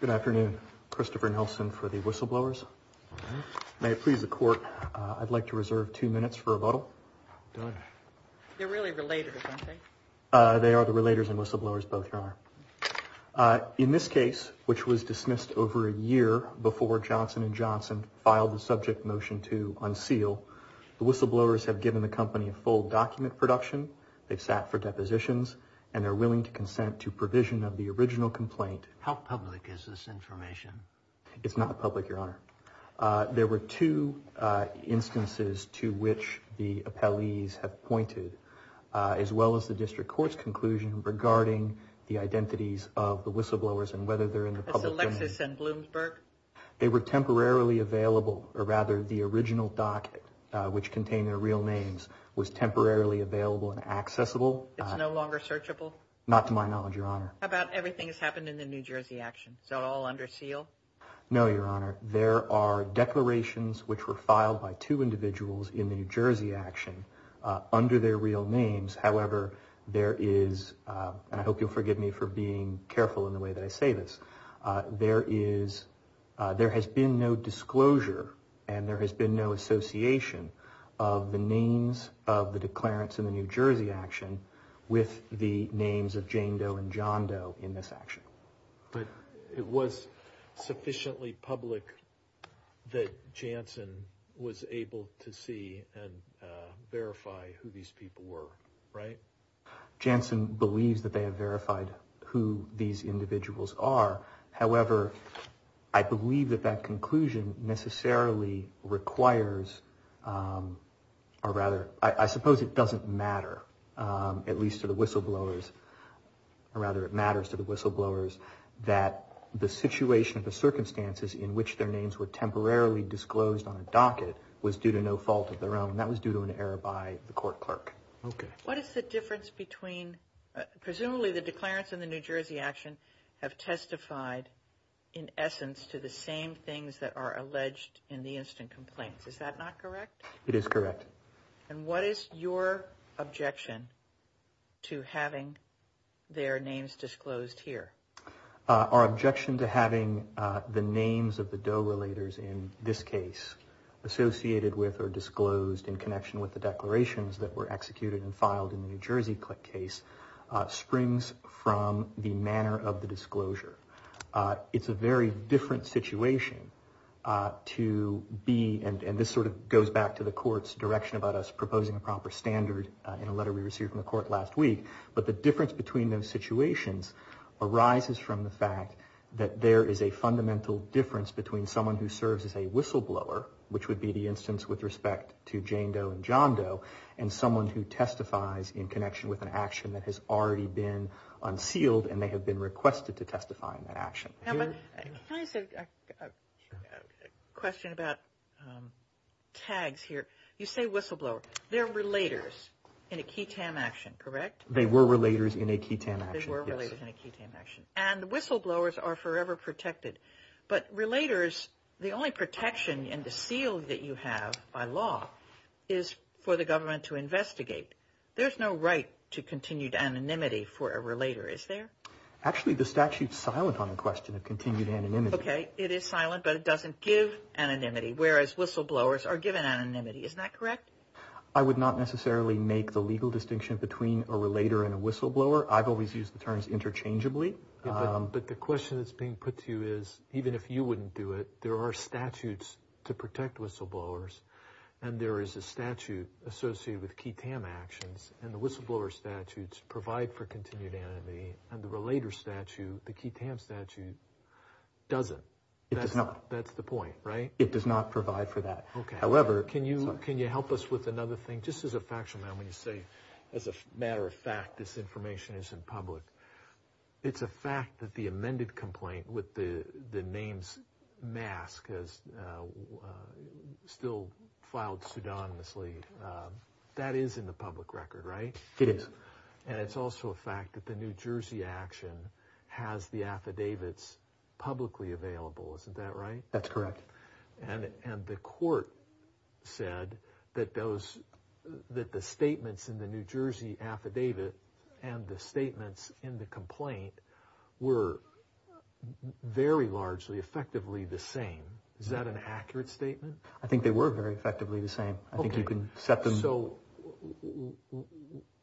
Good afternoon. Christopher Nelson for the whistleblowers. May it please the court, I'd like to reserve two minutes for rebuttal. They're really relators, aren't they? They are the relators and whistleblowers, both, Your Honor. In this case, which was dismissed over a year before Johnson & Johnson filed the subject motion to unseal, the whistleblowers have given the company a full document production, they've sat for depositions, and they're willing to consent to provision of the How public is this information? It's not public, Your Honor. There were two instances to which the appellees have pointed, as well as the district court's conclusion regarding the identities of the whistleblowers and whether they're in the public domain. Is Alexis in Bloomsburg? They were temporarily available, or rather the original docket, which contained their real names, was temporarily available and accessible. It's no longer searchable? Not to my knowledge, Your Honor. How about everything that's happened in the New Jersey action? Is that all under seal? No, Your Honor. There are declarations which were filed by two individuals in the New Jersey action under their real names. However, there is, and I hope you'll forgive me for being careful in the way that I say this, there has been no disclosure and there has been no association of the names of the declarants in the New Jersey action with the names of Jane Doe and John Doe in this action. But it was sufficiently public that Jansen was able to see and verify who these people were, right? Jansen believes that they have verified who these individuals are. However, I believe that that conclusion necessarily requires, or rather, I suppose it doesn't matter, at least to the whistleblowers, or rather it matters to the whistleblowers, that the situation or the circumstances in which their names were temporarily disclosed on a docket was due to no fault of their own. That was due to an error by the court clerk. What is the difference between, presumably the declarants in the New Jersey action have testified, in essence, to the same things that are alleged in the instant complaints. Is that not correct? It is correct. And what is your objection to having their names disclosed here? Our objection to having the names of the Doe-relators in this case associated with or disclosed in connection with the declarations that were executed and filed in the New Jersey case springs from the manner of the disclosure. It's a very different situation to be, and this sort of goes back to the court's direction about us proposing a proper standard in a letter we received from the court last week, but the difference between those situations arises from the fact that there is a fundamental difference between someone who serves as a whistleblower, which would be the instance with respect to Jane Doe and John Doe, and someone who testifies in connection with an action that has already been unsealed and they have been requested to testify in that action. Can I ask a question about tags here? You say whistleblower. They're relators in a QI-TAM action, correct? They were relators in a QI-TAM action. They were relators in a QI-TAM action. And whistleblowers are forever protected. But relators, the only protection in the seal that you have by law is for the government to investigate. There's no right to continued anonymity for a relator, is there? Actually, the statute's silent on the question of continued anonymity. Okay. It is silent, but it doesn't give anonymity, whereas whistleblowers are given anonymity. Isn't that correct? I would not necessarily make the legal distinction between a relator and a whistleblower. I've always used the terms interchangeably. But the question that's being put to you is, even if you wouldn't do it, there are statutes to protect whistleblowers, and there is a statute associated with QI-TAM actions, and the whistleblower statutes provide for continued anonymity, and the relator statute, the QI-TAM statute, doesn't. It does not. That's the point, right? It does not provide for that. Okay. However, can you help us with another thing? Just as a factual matter, when you say, as a matter of fact, this information is in public, it's a fact that the amended complaint with the names mask is still filed pseudonymously. That is in the public record, right? It is. And it's also a fact that the New Jersey action has the affidavits publicly available. Isn't that right? That's correct. And the court said that the statements in the New Jersey affidavit and the statements in the complaint were very largely effectively the same. Is that an accurate statement? I think they were very effectively the same. I think you can set them. So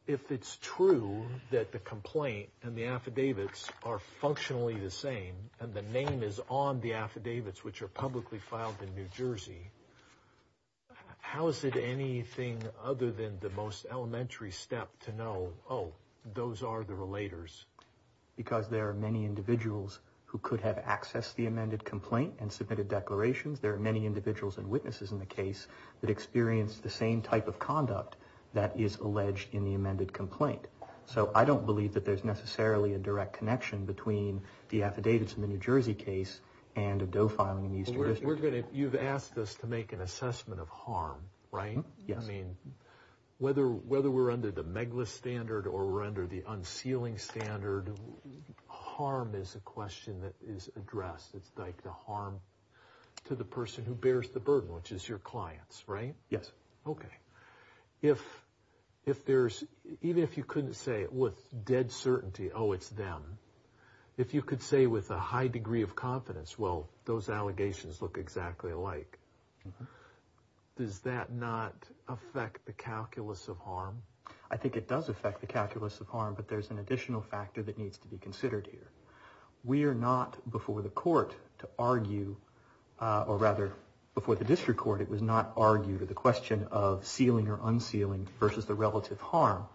if it's true that the complaint and the affidavits are functionally the same and the name is on the affidavits which are publicly filed in New Jersey, how is it anything other than the most elementary step to know, oh, those are the relators? Because there are many individuals who could have accessed the amended complaint and submitted declarations. There are many individuals and witnesses in the case that experienced the same type of conduct that is alleged in the amended complaint. So I don't believe that there's necessarily a direct connection between the affidavits in the New Jersey case and a DOE filing in the Eastern District. You've asked us to make an assessment of harm, right? Yes. I mean, whether we're under the MEGLAS standard or we're under the unsealing standard, harm is a question that is addressed. It's like the harm to the person who bears the burden, which is your clients, right? Yes. Okay. Even if you couldn't say with dead certainty, oh, it's them, if you could say with a high degree of confidence, well, those allegations look exactly alike, does that not affect the calculus of harm? I think it does affect the calculus of harm, but there's an additional factor that needs to be considered here. We are not before the court to argue, or rather before the district court, it was not argued the question of sealing or unsealing versus the relative harm.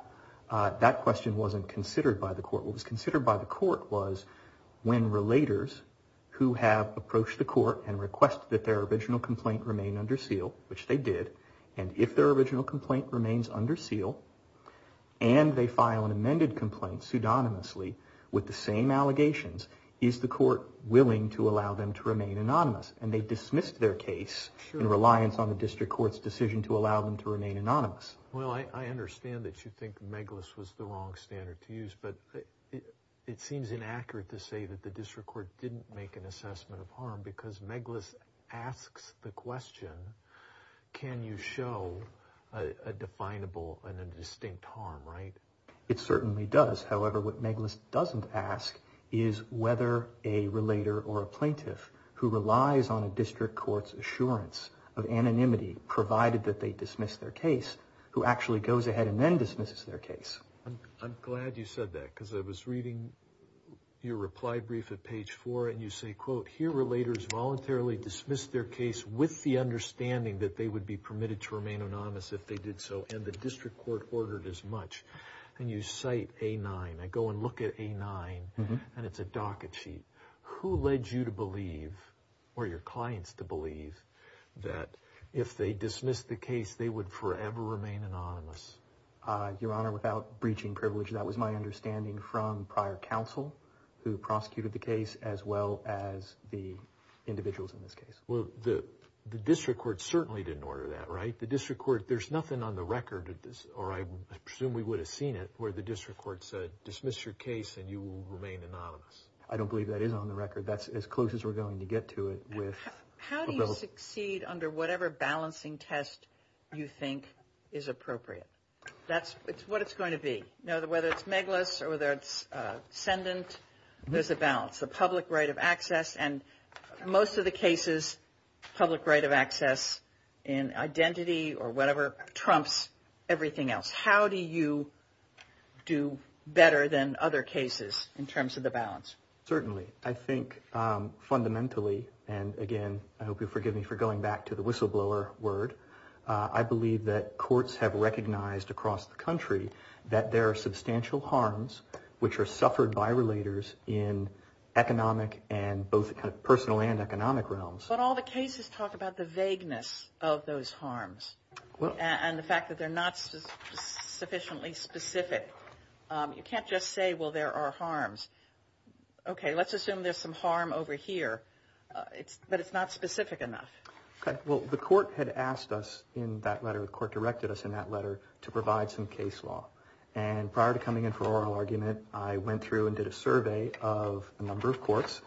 That question wasn't considered by the court. What was considered by the court was when relators who have approached the court and requested that their original complaint remain under seal, which they did, and if their original complaint remains under seal and they file an amended complaint pseudonymously with the same allegations, is the court willing to allow them to remain anonymous? And they dismissed their case in reliance on the district court's decision to allow them to remain anonymous. Well, I understand that you think Meglis was the wrong standard to use, but it seems inaccurate to say that the district court didn't make an assessment of harm because Meglis asks the question, can you show a definable and a distinct harm, right? It certainly does. However, what Meglis doesn't ask is whether a relator or a plaintiff who relies on a district court's assurance of anonymity, provided that they dismiss their case, who actually goes ahead and then dismisses their case. I'm glad you said that because I was reading your reply brief at page four, and you say, quote, here relators voluntarily dismissed their case with the understanding that they would be permitted to remain anonymous if they did so, and the district court ordered as much, and you cite A-9. I go and look at A-9, and it's a docket sheet. Who led you to believe, or your clients to believe, that if they dismissed the case, they would forever remain anonymous? Your Honor, without breaching privilege, that was my understanding from prior counsel who prosecuted the case as well as the individuals in this case. Well, the district court certainly didn't order that, right? The district court, there's nothing on the record, or I presume we would have seen it, where the district court said dismiss your case and you will remain anonymous. I don't believe that is on the record. That's as close as we're going to get to it. How do you succeed under whatever balancing test you think is appropriate? That's what it's going to be. Whether it's Meglis or whether it's ascendant, there's a balance. Whether it's the public right of access, and most of the cases, public right of access in identity or whatever trumps everything else. How do you do better than other cases in terms of the balance? Certainly. I think fundamentally, and again, I hope you'll forgive me for going back to the whistleblower word, I believe that courts have recognized across the country that there are substantial harms which are suffered by relators in economic and both personal and economic realms. But all the cases talk about the vagueness of those harms and the fact that they're not sufficiently specific. You can't just say, well, there are harms. Okay, let's assume there's some harm over here, but it's not specific enough. Okay, well, the court had asked us in that letter, the court directed us in that letter to provide some case law. And prior to coming in for oral argument, I went through and did a survey of a number of courts,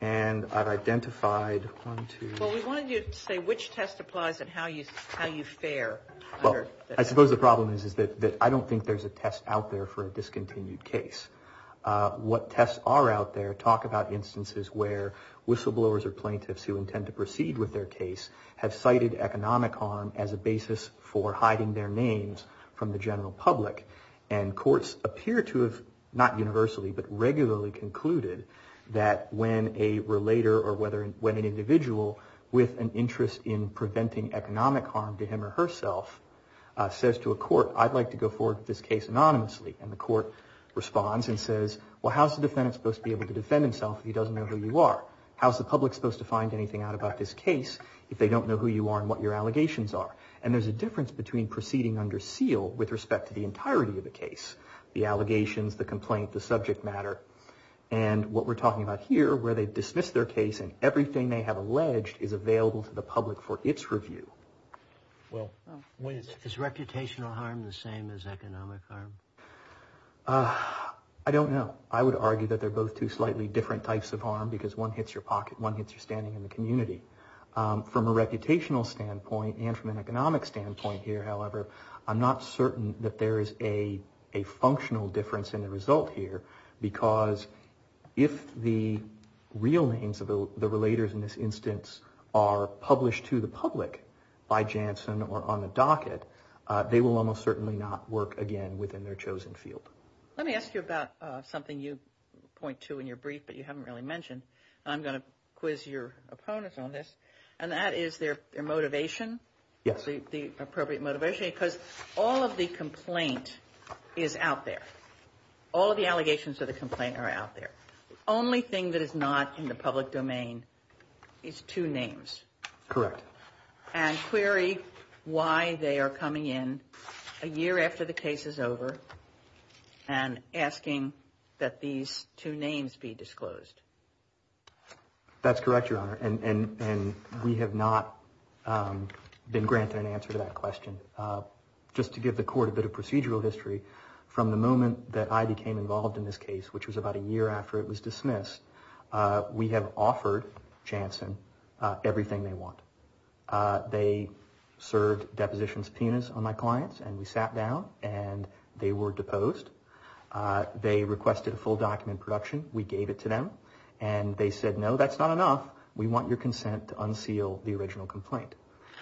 and I've identified one, two. Well, we wanted you to say which test applies and how you fare. Well, I suppose the problem is that I don't think there's a test out there for a discontinued case. What tests are out there talk about instances where whistleblowers or plaintiffs who intend to proceed with their case have cited economic harm as a basis for hiding their names from the general public. And courts appear to have not universally but regularly concluded that when a relator or when an individual with an interest in preventing economic harm to him or herself says to a court, I'd like to go forward with this case anonymously, and the court responds and says, well, how's the defendant supposed to be able to defend himself if he doesn't know who you are? How's the public supposed to find anything out about this case if they don't know who you are and what your allegations are? And there's a difference between proceeding under seal with respect to the entirety of the case, the allegations, the complaint, the subject matter. And what we're talking about here where they dismiss their case and everything they have alleged is available to the public for its review. Is reputational harm the same as economic harm? I don't know. I would argue that they're both two slightly different types of harm because one hits your pocket, one hits your standing in the community. From a reputational standpoint and from an economic standpoint here, however, I'm not certain that there is a functional difference in the result here because if the real names of the relators in this instance are published to the public by Janssen or on the docket, they will almost certainly not work again within their chosen field. Let me ask you about something you point to in your brief but you haven't really mentioned. I'm going to quiz your opponents on this, and that is their motivation. Yes. The appropriate motivation because all of the complaint is out there. All of the allegations of the complaint are out there. The only thing that is not in the public domain is two names. Correct. And query why they are coming in a year after the case is over and asking that these two names be disclosed. That's correct, Your Honor, and we have not been granted an answer to that question. Just to give the Court a bit of procedural history, from the moment that I became involved in this case, which was about a year after it was dismissed, we have offered Janssen everything they want. They served deposition subpoenas on my clients, and we sat down, and they were deposed. They requested a full document of production. We gave it to them, and they said, no, that's not enough. We want your consent to unseal the original complaint.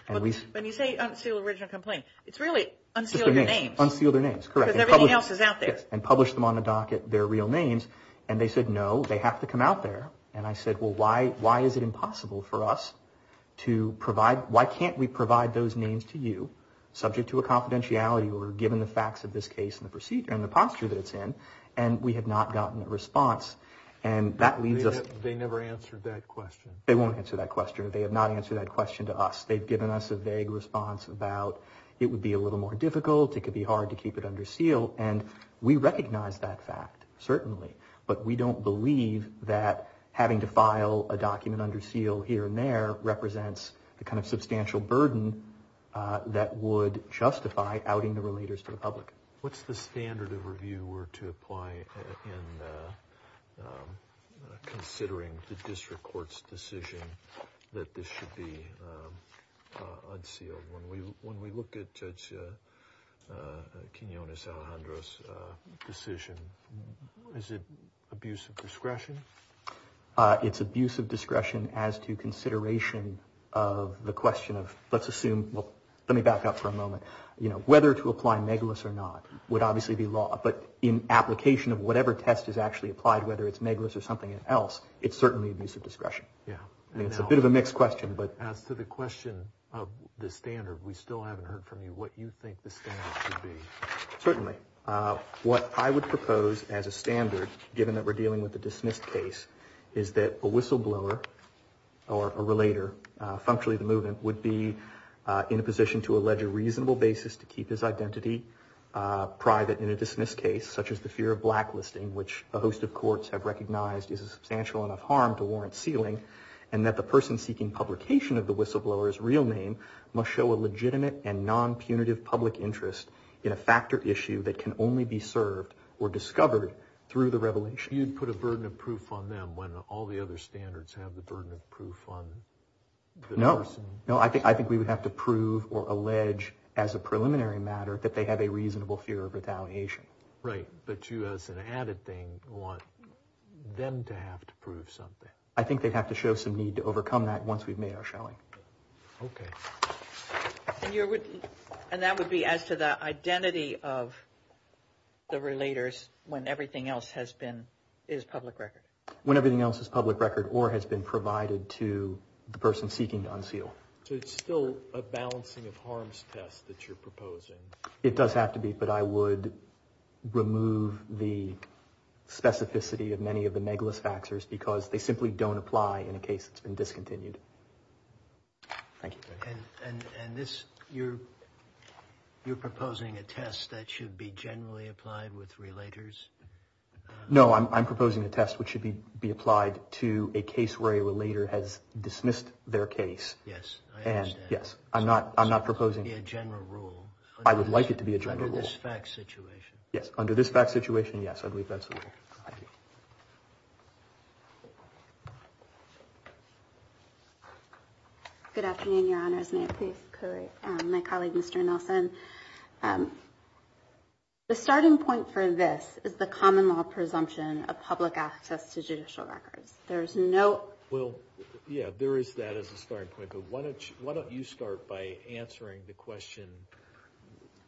When you say unseal the original complaint, it's really unseal their names. Unseal their names, correct. Because everything else is out there. Yes, and publish them on the docket, their real names, and they said, no, they have to come out there. And I said, well, why is it impossible for us to provide, why can't we provide those names to you subject to a confidentiality or given the facts of this case and the procedure and the posture that it's in? And we have not gotten a response, and that leaves us. They never answered that question. They won't answer that question. They have not answered that question to us. They've given us a vague response about it would be a little more difficult. It could be hard to keep it under seal, and we recognize that fact, certainly. But we don't believe that having to file a document under seal here and there represents the kind of substantial burden that would justify outing the relators to the public. What's the standard of review were to apply in considering the district court's decision that this should be unsealed? When we look at Judge Quinonez Alejandro's decision, is it abuse of discretion? It's abuse of discretion as to consideration of the question of, let's assume, well, let me back up for a moment. You know, whether to apply megalis or not would obviously be law, but in application of whatever test is actually applied, whether it's megalis or something else, it's certainly abuse of discretion. Yeah. I mean, it's a bit of a mixed question. But as to the question of the standard, we still haven't heard from you what you think the standard should be. Certainly. What I would propose as a standard, given that we're dealing with a dismissed case, is that a whistleblower or a relator, functionally the movement, would be in a position to allege a reasonable basis to keep his identity private in a dismissed case, such as the fear of blacklisting, which a host of courts have recognized is a substantial enough harm to warrant sealing, and that the person seeking publication of the whistleblower's real name must show a legitimate and non-punitive public interest in a factor issue that can only be served or discovered through the revelation. You'd put a burden of proof on them when all the other standards have the burden of proof on the person? No. No, I think we would have to prove or allege, as a preliminary matter, that they have a reasonable fear of retaliation. Right. But you, as an added thing, want them to have to prove something. I think they'd have to show some need to overcome that once we've made our shelling. Okay. And that would be as to the identity of the relators when everything else has been, is public record? When everything else is public record or has been provided to the person seeking to unseal. So it's still a balancing of harms test that you're proposing? It does have to be, but I would remove the specificity of many of the negligence factors because they simply don't apply in a case that's been discontinued. Thank you. And this, you're proposing a test that should be generally applied with relators? No, I'm proposing a test which should be applied to a case where a relator has dismissed their case. Yes, I understand. Yes, I'm not proposing. It should be a general rule. I would like it to be a general rule. Under this fact situation. Yes, under this fact situation, yes. I believe that's all. Thank you. Good afternoon, Your Honors. May I please correct my colleague, Mr. Nelson? The starting point for this is the common law presumption of public access to judicial records. There is no. Well, yeah, there is that as a starting point, but why don't you start by answering the question,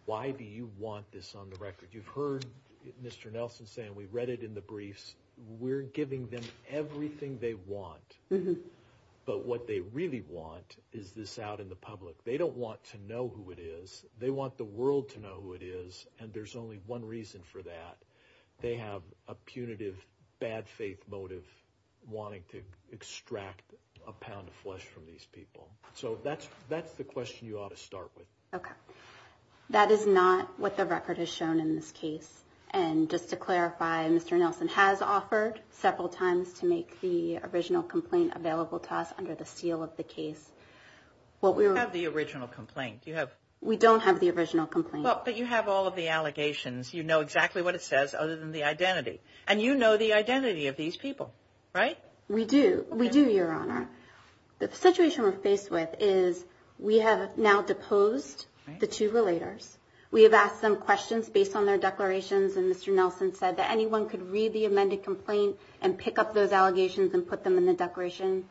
why do you want this on the record? You've heard Mr. Nelson saying we read it in the briefs. We're giving them everything they want, but what they really want is this out in the public. They don't want to know who it is. They want the world to know who it is, and there's only one reason for that. They have a punitive, bad faith motive wanting to extract a pound of flesh from these people. So that's the question you ought to start with. That is not what the record has shown in this case. And just to clarify, Mr. Nelson has offered several times to make the original complaint available to us under the seal of the case. We have the original complaint. We don't have the original complaint. But you have all of the allegations. You know exactly what it says, other than the identity. And you know the identity of these people, right? We do. We do, Your Honor. The situation we're faced with is we have now deposed the two relators. We have asked them questions based on their declarations, and Mr. Nelson said that anyone could read the amended complaint and pick up those allegations and put them in the declaration.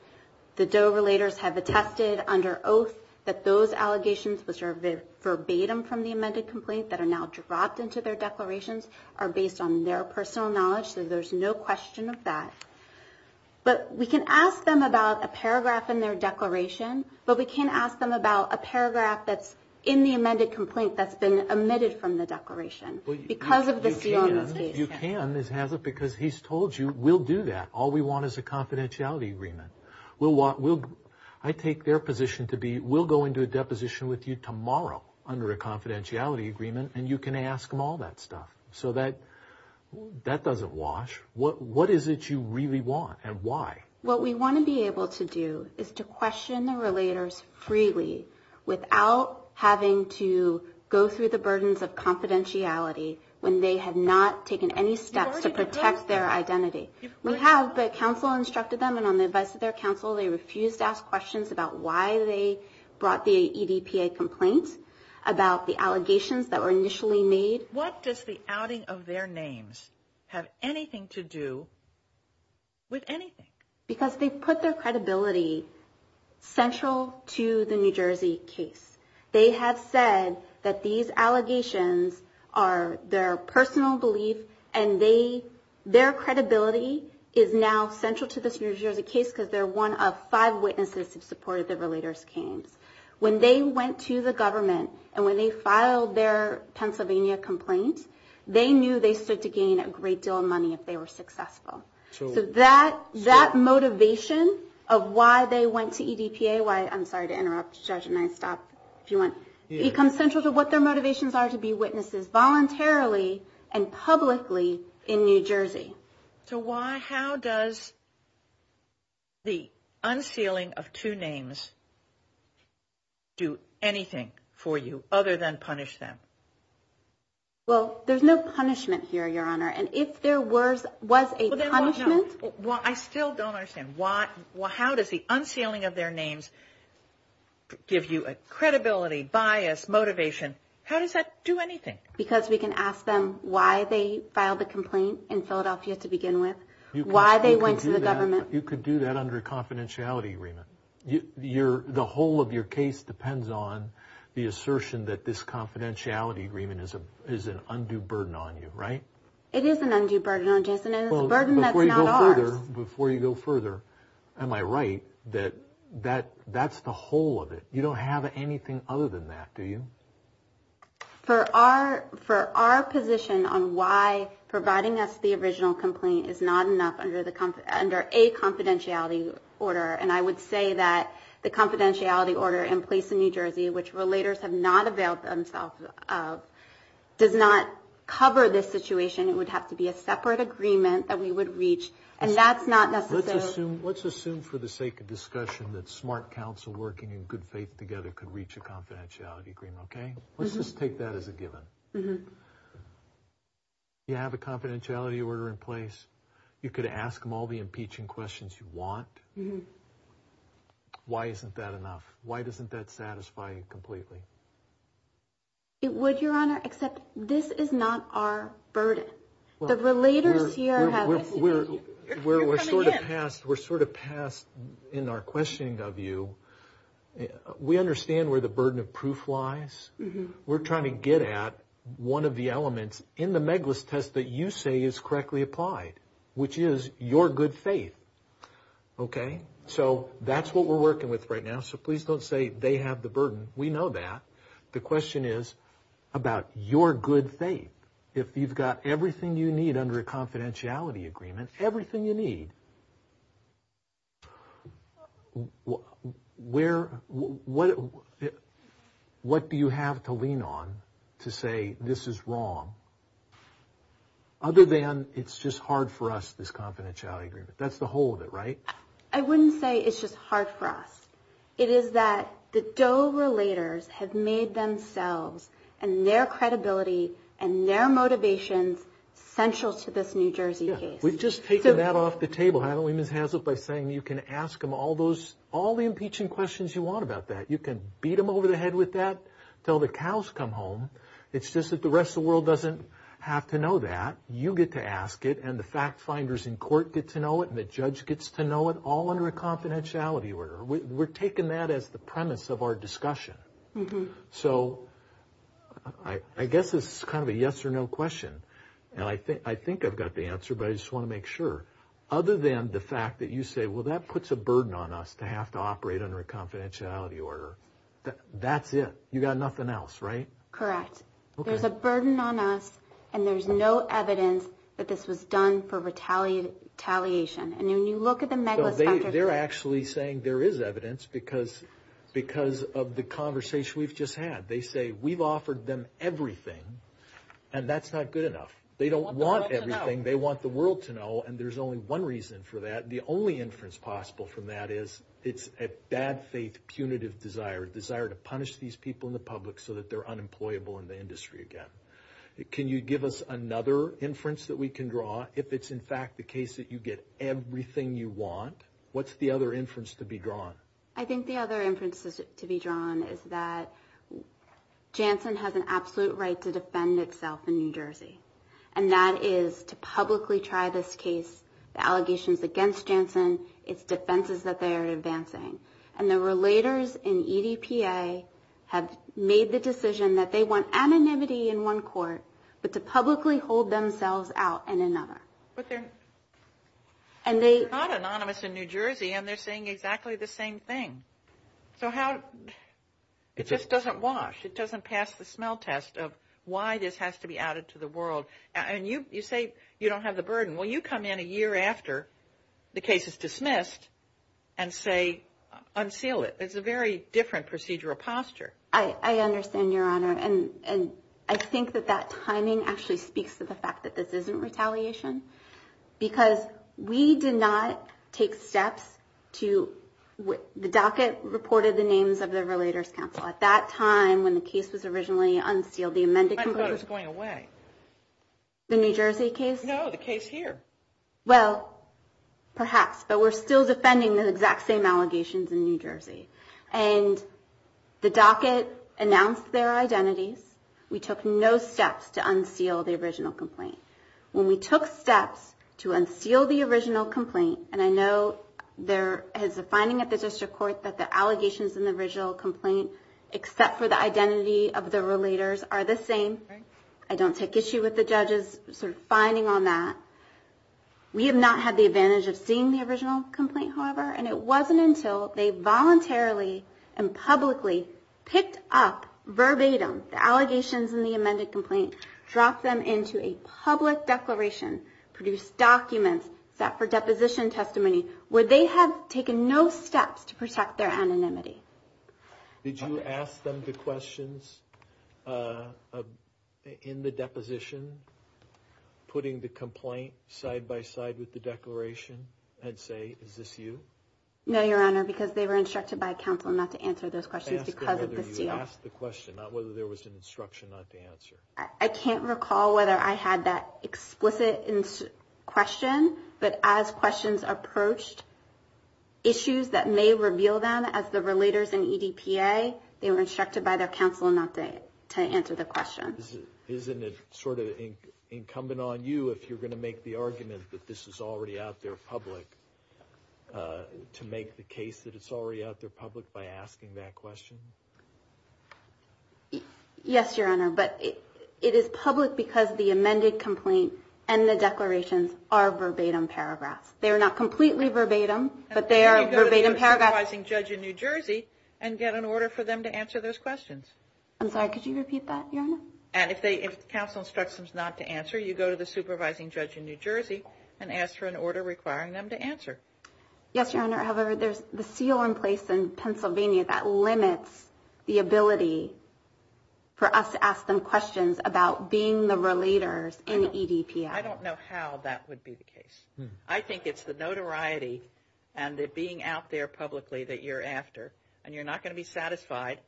The Doe relators have attested under oath that those allegations, which are verbatim from the amended complaint that are now dropped into their declarations, are based on their personal knowledge, so there's no question of that. But we can ask them about a paragraph in their declaration, but we can't ask them about a paragraph that's in the amended complaint that's been omitted from the declaration because of the seal of the case. You can, because he's told you, we'll do that. All we want is a confidentiality agreement. I take their position to be we'll go into a deposition with you tomorrow under a confidentiality agreement, and you can ask them all that stuff. So that doesn't wash. What is it you really want, and why? What we want to be able to do is to question the relators freely without having to go through the burdens of confidentiality when they have not taken any steps to protect their identity. We have, but counsel instructed them, and on the advice of their counsel, they refused to ask questions about why they brought the EDPA complaint, about the allegations that were initially made. What does the outing of their names have anything to do with anything? Because they put their credibility central to the New Jersey case. They have said that these allegations are their personal belief, and their credibility is now central to this New Jersey case because they're one of five witnesses that supported the relators' claims. When they went to the government, and when they filed their Pennsylvania complaint, they knew they stood to gain a great deal of money if they were successful. So that motivation of why they went to EDPA, why I'm sorry to interrupt, Judge, and I stop if you want, becomes central to what their motivations are to be witnesses voluntarily and publicly in New Jersey. So why, how does the unsealing of two names do anything for you other than punish them? Well, there's no punishment here, Your Honor, and if there was a punishment. Well, I still don't understand. How does the unsealing of their names give you credibility, bias, motivation? How does that do anything? Because we can ask them why they filed the complaint in Philadelphia to begin with, why they went to the government. You could do that under a confidentiality agreement. The whole of your case depends on the assertion that this confidentiality agreement is an undue burden on you, right? It is an undue burden on Jason, and it's a burden that's not ours. Before you go further, am I right that that's the whole of it? You don't have anything other than that, do you? For our position on why providing us the original complaint is not enough under a confidentiality order, and I would say that the confidentiality order in place in New Jersey, which relators have not availed themselves of, does not cover this situation. It would have to be a separate agreement that we would reach, and that's not necessary. Let's assume for the sake of discussion that smart counsel working in good faith together could reach a confidentiality agreement, okay? Let's just take that as a given. You have a confidentiality order in place. You could ask them all the impeaching questions you want. Why isn't that enough? Why doesn't that satisfy you completely? It would, Your Honor, except this is not our burden. The relators here have this burden. We're sort of past in our questioning of you. We understand where the burden of proof lies. We're trying to get at one of the elements in the Meglis test that you say is correctly applied, which is your good faith, okay? So that's what we're working with right now. So please don't say they have the burden. We know that. The question is about your good faith. If you've got everything you need under a confidentiality agreement, everything you need, what do you have to lean on to say this is wrong, other than it's just hard for us, this confidentiality agreement? That's the whole of it, right? I wouldn't say it's just hard for us. It is that the Doe relators have made themselves and their credibility and their motivations central to this New Jersey case. We've just taken that off the table, haven't we, Ms. Hazlitt, by saying you can ask them all the impeaching questions you want about that. You can beat them over the head with that until the cows come home. It's just that the rest of the world doesn't have to know that. You get to ask it, and the fact finders in court get to know it, and the judge gets to know it, all under a confidentiality order. We're taking that as the premise of our discussion. So I guess it's kind of a yes or no question. I think I've got the answer, but I just want to make sure. Other than the fact that you say, well, that puts a burden on us to have to operate under a confidentiality order. That's it. You've got nothing else, right? Correct. There's a burden on us, and there's no evidence that this was done for retaliation. And when you look at the megalospectrum. They're actually saying there is evidence because of the conversation we've just had. They say we've offered them everything, and that's not good enough. They don't want everything. They want the world to know, and there's only one reason for that. The only inference possible from that is it's a bad faith punitive desire, a desire to punish these people in the public so that they're unemployable in the industry again. Can you give us another inference that we can draw? If it's, in fact, the case that you get everything you want, what's the other inference to be drawn? I think the other inference to be drawn is that Janssen has an absolute right to defend itself in New Jersey, and that is to publicly try this case. The allegations against Janssen, it's defenses that they are advancing. And the relators in EDPA have made the decision that they want anonymity in one court but to publicly hold themselves out in another. But they're not anonymous in New Jersey, and they're saying exactly the same thing. So how – it just doesn't wash. It doesn't pass the smell test of why this has to be added to the world. And you say you don't have the burden. Well, you come in a year after the case is dismissed and say unseal it. It's a very different procedural posture. I understand, Your Honor. And I think that that timing actually speaks to the fact that this isn't retaliation because we did not take steps to – the docket reported the names of the relators' counsel. At that time, when the case was originally unsealed, the amended complaint – I thought it was going away. The New Jersey case? No, the case here. Well, perhaps. But we're still defending the exact same allegations in New Jersey. And the docket announced their identities. We took no steps to unseal the original complaint. When we took steps to unseal the original complaint – and I know there is a finding at the district court that the allegations in the original complaint, except for the identity of the relators, are the same. I don't take issue with the judge's sort of finding on that. We have not had the advantage of seeing the original complaint, however, and it wasn't until they voluntarily and publicly picked up verbatim the allegations in the amended complaint, dropped them into a public declaration, produced documents set for deposition testimony, where they have taken no steps to protect their anonymity. Did you ask them the questions in the deposition, putting the complaint side-by-side with the declaration, and say, is this you? No, Your Honor, because they were instructed by counsel not to answer those questions because of the seal. I asked them whether you asked the question, not whether there was an instruction not to answer. I can't recall whether I had that explicit question, but as questions approached issues that may reveal them as the relators in EDPA, they were instructed by their counsel not to answer the question. Isn't it sort of incumbent on you, if you're going to make the argument that this is already out there public, to make the case that it's already out there public by asking that question? Yes, Your Honor, but it is public because the amended complaint and the declarations are verbatim paragraphs. They are not completely verbatim, but they are verbatim paragraphs. Then you go to the supervising judge in New Jersey and get an order for them to answer those questions. I'm sorry, could you repeat that, Your Honor? And if counsel instructs them not to answer, you go to the supervising judge in New Jersey and ask for an order requiring them to answer. Yes, Your Honor, however, there's the seal in place in Pennsylvania that limits the ability for us to ask them questions about being the relators in EDPA. I don't know how that would be the case. I think it's the notoriety and the being out there publicly that you're after, and you're not going to be satisfied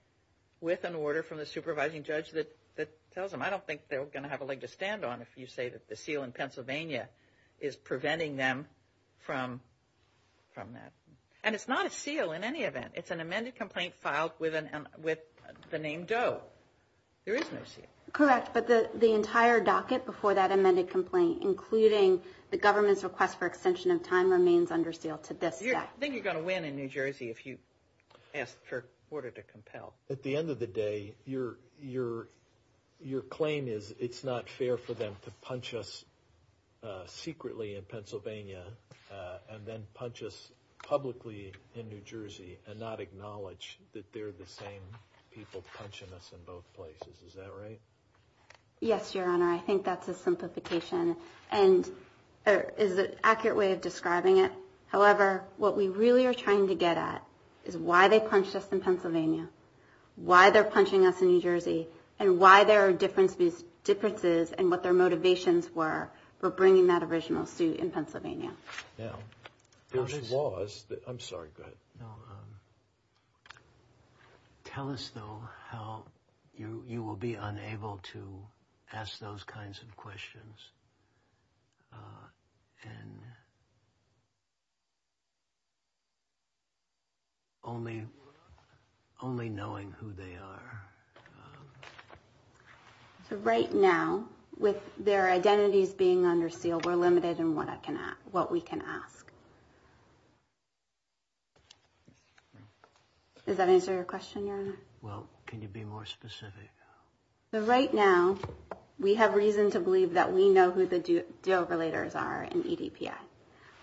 with an order from the supervising judge that tells them. I don't think they're going to have a leg to stand on if you say that the seal in Pennsylvania is preventing them from that. And it's not a seal in any event. It's an amended complaint filed with the name Doe. There is no seal. Correct, but the entire docket before that amended complaint, including the government's request for extension of time, remains under seal to this day. I think you're going to win in New Jersey if you ask for an order to compel. At the end of the day, your claim is it's not fair for them to punch us secretly in Pennsylvania and then punch us publicly in New Jersey and not acknowledge that they're the same people punching us in both places. Is that right? Yes, Your Honor. I think that's a simplification, and is an accurate way of describing it. However, what we really are trying to get at is why they punched us in Pennsylvania, why they're punching us in New Jersey, and why there are differences in what their motivations were for bringing that original suit in Pennsylvania. Yeah. I'm sorry. Go ahead. No. Tell us, though, how you will be unable to ask those kinds of questions and only knowing who they are. Right now, with their identities being under seal, we're limited in what we can ask. Does that answer your question, Your Honor? Well, can you be more specific? Right now, we have reason to believe that we know who the deal-relators are in EDPF.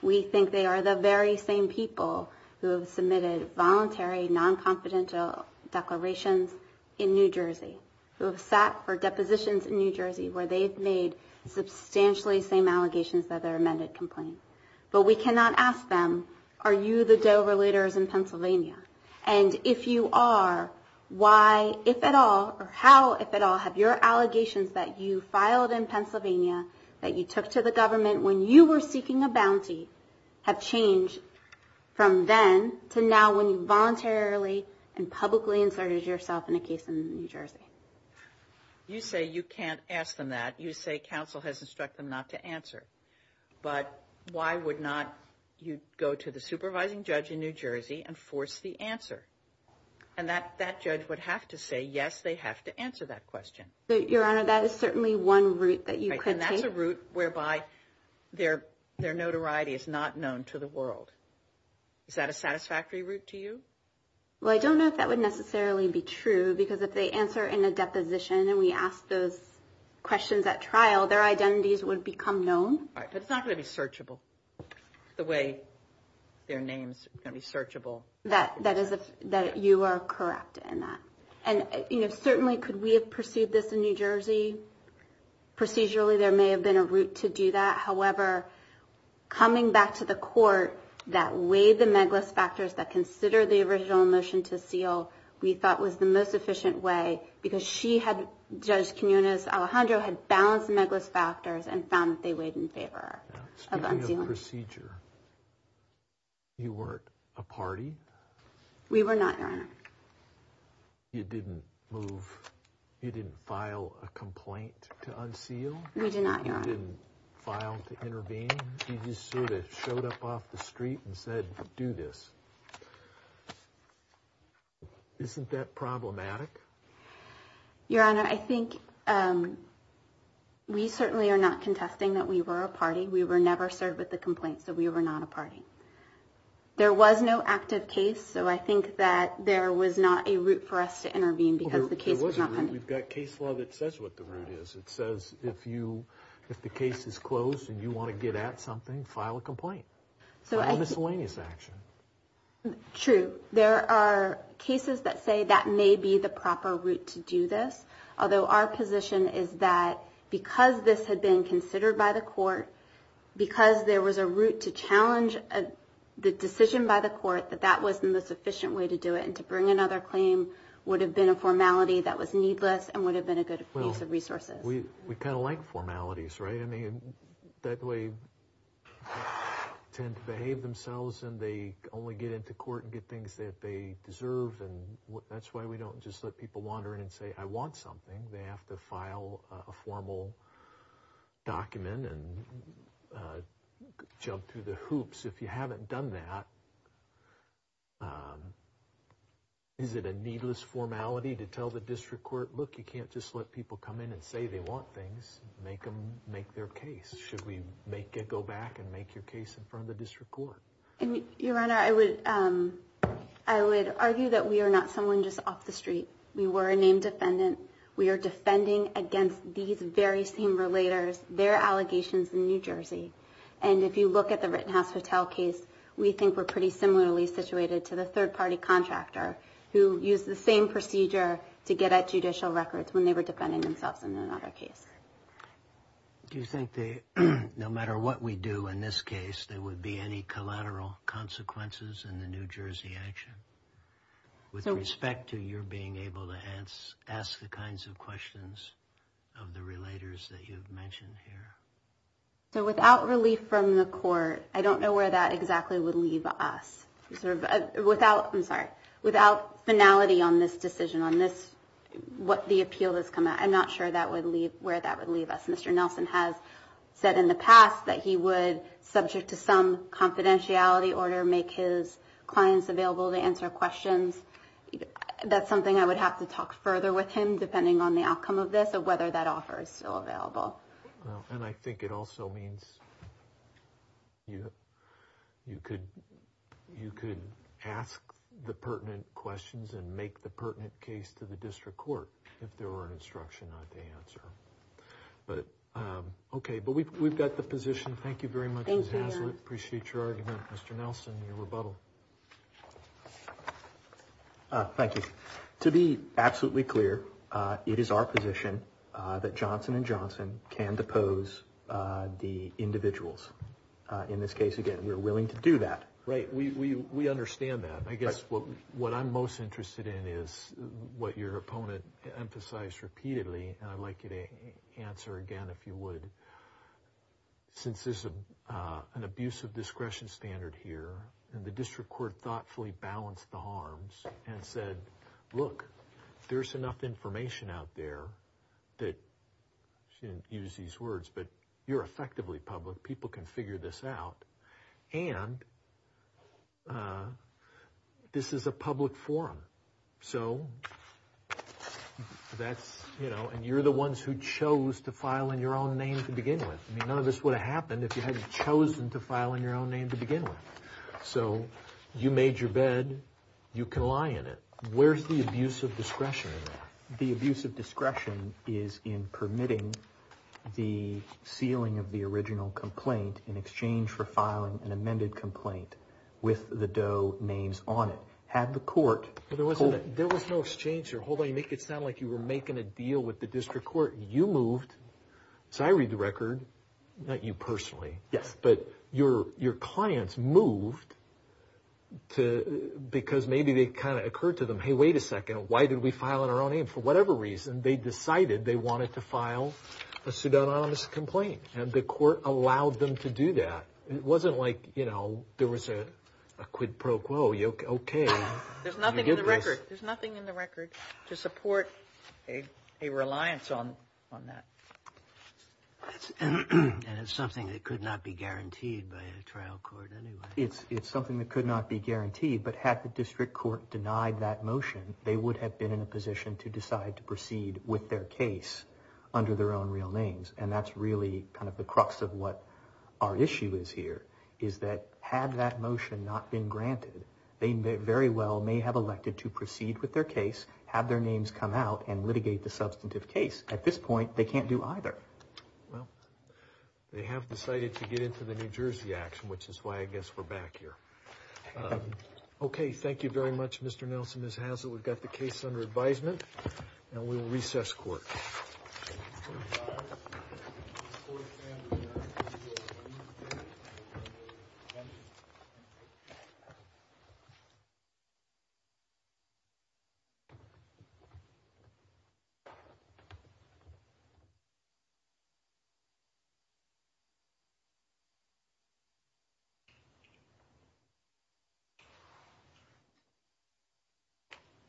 We think they are the very same people who have submitted voluntary, non-confidential declarations in New Jersey, who have sat for depositions in New Jersey where they've made substantially the same allegations that their amended complaint. But we cannot ask them, are you the deal-relators in Pennsylvania? And if you are, why, if at all, or how, if at all, have your allegations that you filed in Pennsylvania, that you took to the government when you were seeking a bounty, have changed from then to now when you voluntarily and publicly inserted yourself in a case in New Jersey? You say you can't ask them that. You say counsel has instructed them not to answer. But why would not you go to the supervising judge in New Jersey and force the answer? And that judge would have to say, yes, they have to answer that question. Your Honor, that is certainly one route that you could take. And that's a route whereby their notoriety is not known to the world. Is that a satisfactory route to you? Well, I don't know if that would necessarily be true, because if they answer in a deposition and we ask those questions at trial, their identities would become known. But it's not going to be searchable the way their names are going to be searchable. That you are correct in that. And, you know, certainly could we have pursued this in New Jersey? Procedurally, there may have been a route to do that. However, coming back to the court that weighed the megalis factors that consider the original motion to seal, we thought was the most efficient way, because she had, Judge Quinones Alejandro, had balanced the megalis factors and found that they weighed in favor of unsealing. Speaking of procedure, you weren't a party? We were not, Your Honor. You didn't move, you didn't file a complaint to unseal? We did not, Your Honor. You didn't file to intervene? You just sort of showed up off the street and said, do this. Isn't that problematic? Your Honor, I think we certainly are not contesting that we were a party. We were never served with a complaint, so we were not a party. There was no active case, so I think that there was not a route for us to intervene because the case was not pending. We've got case law that says what the route is. It says if the case is closed and you want to get at something, file a complaint, file a miscellaneous action. True. There are cases that say that may be the proper route to do this, although our position is that because this had been considered by the court, because there was a route to challenge the decision by the court that that was the most efficient way to do it and to bring another claim would have been a formality that was needless and would have been a good use of resources. Well, we kind of like formalities, right? I mean, they tend to behave themselves and they only get into court and get things that they deserve, and that's why we don't just let people wander in and say, I want something. They have to file a formal document and jump through the hoops. If you haven't done that, is it a needless formality to tell the district court, look, you can't just let people come in and say they want things, make them make their case. Should we make it go back and make your case in front of the district court? Your Honor, I would argue that we are not someone just off the street. We were a named defendant. We are defending against these very same relators, their allegations in New Jersey. And if you look at the Rittenhouse Hotel case, we think we're pretty similarly situated to the third-party contractor who used the same procedure to get at judicial records when they were defending themselves in another case. Do you think that no matter what we do in this case, there would be any collateral consequences in the New Jersey action? With respect to your being able to ask the kinds of questions of the relators that you've mentioned here. So without relief from the court, I don't know where that exactly would leave us. Without, I'm sorry, without finality on this decision, on what the appeal has come out, I'm not sure where that would leave us. Mr. Nelson has said in the past that he would, subject to some confidentiality order, make his clients available to answer questions. That's something I would have to talk further with him, depending on the outcome of this, of whether that offer is still available. And I think it also means you could ask the pertinent questions and make the pertinent case to the district court if there were an instruction not to answer. But, okay, but we've got the position. Thank you very much, Ms. Hazlett. Appreciate your argument. Mr. Nelson, your rebuttal. Thank you. To be absolutely clear, it is our position that Johnson & Johnson can depose the individuals. In this case, again, we're willing to do that. Right. We understand that. I guess what I'm most interested in is what your opponent emphasized repeatedly, and I'd like you to answer again if you would. Since there's an abuse of discretion standard here, and the district court thoughtfully balanced the harms and said, look, there's enough information out there that you're effectively public. People can figure this out. And this is a public forum. So that's, you know, and you're the ones who chose to file in your own name to begin with. I mean, none of this would have happened if you hadn't chosen to file in your own name to begin with. So you made your bed. You can lie in it. Where's the abuse of discretion in that? The abuse of discretion is in permitting the sealing of the original complaint in exchange for filing an amended complaint with the Doe names on it. You had the court. There was no exchange. Hold on. You make it sound like you were making a deal with the district court. You moved. So I read the record, not you personally. Yes. But your clients moved because maybe it kind of occurred to them, hey, wait a second. Why did we file in our own name? For whatever reason, they decided they wanted to file a pseudonymous complaint, and the court allowed them to do that. It wasn't like, you know, there was a quid pro quo. Okay. There's nothing in the record to support a reliance on that. And it's something that could not be guaranteed by a trial court anyway. It's something that could not be guaranteed, but had the district court denied that motion, they would have been in a position to decide to proceed with their case under their own real names, and that's really kind of the crux of what our issue is here, is that had that motion not been granted, they very well may have elected to proceed with their case, have their names come out, and litigate the substantive case. At this point, they can't do either. Well, they have decided to get into the New Jersey action, which is why I guess we're back here. Okay. Thank you very much, Mr. Nelson, Ms. Hazlett. We've got the case under advisement, and we will recess court. Thank you.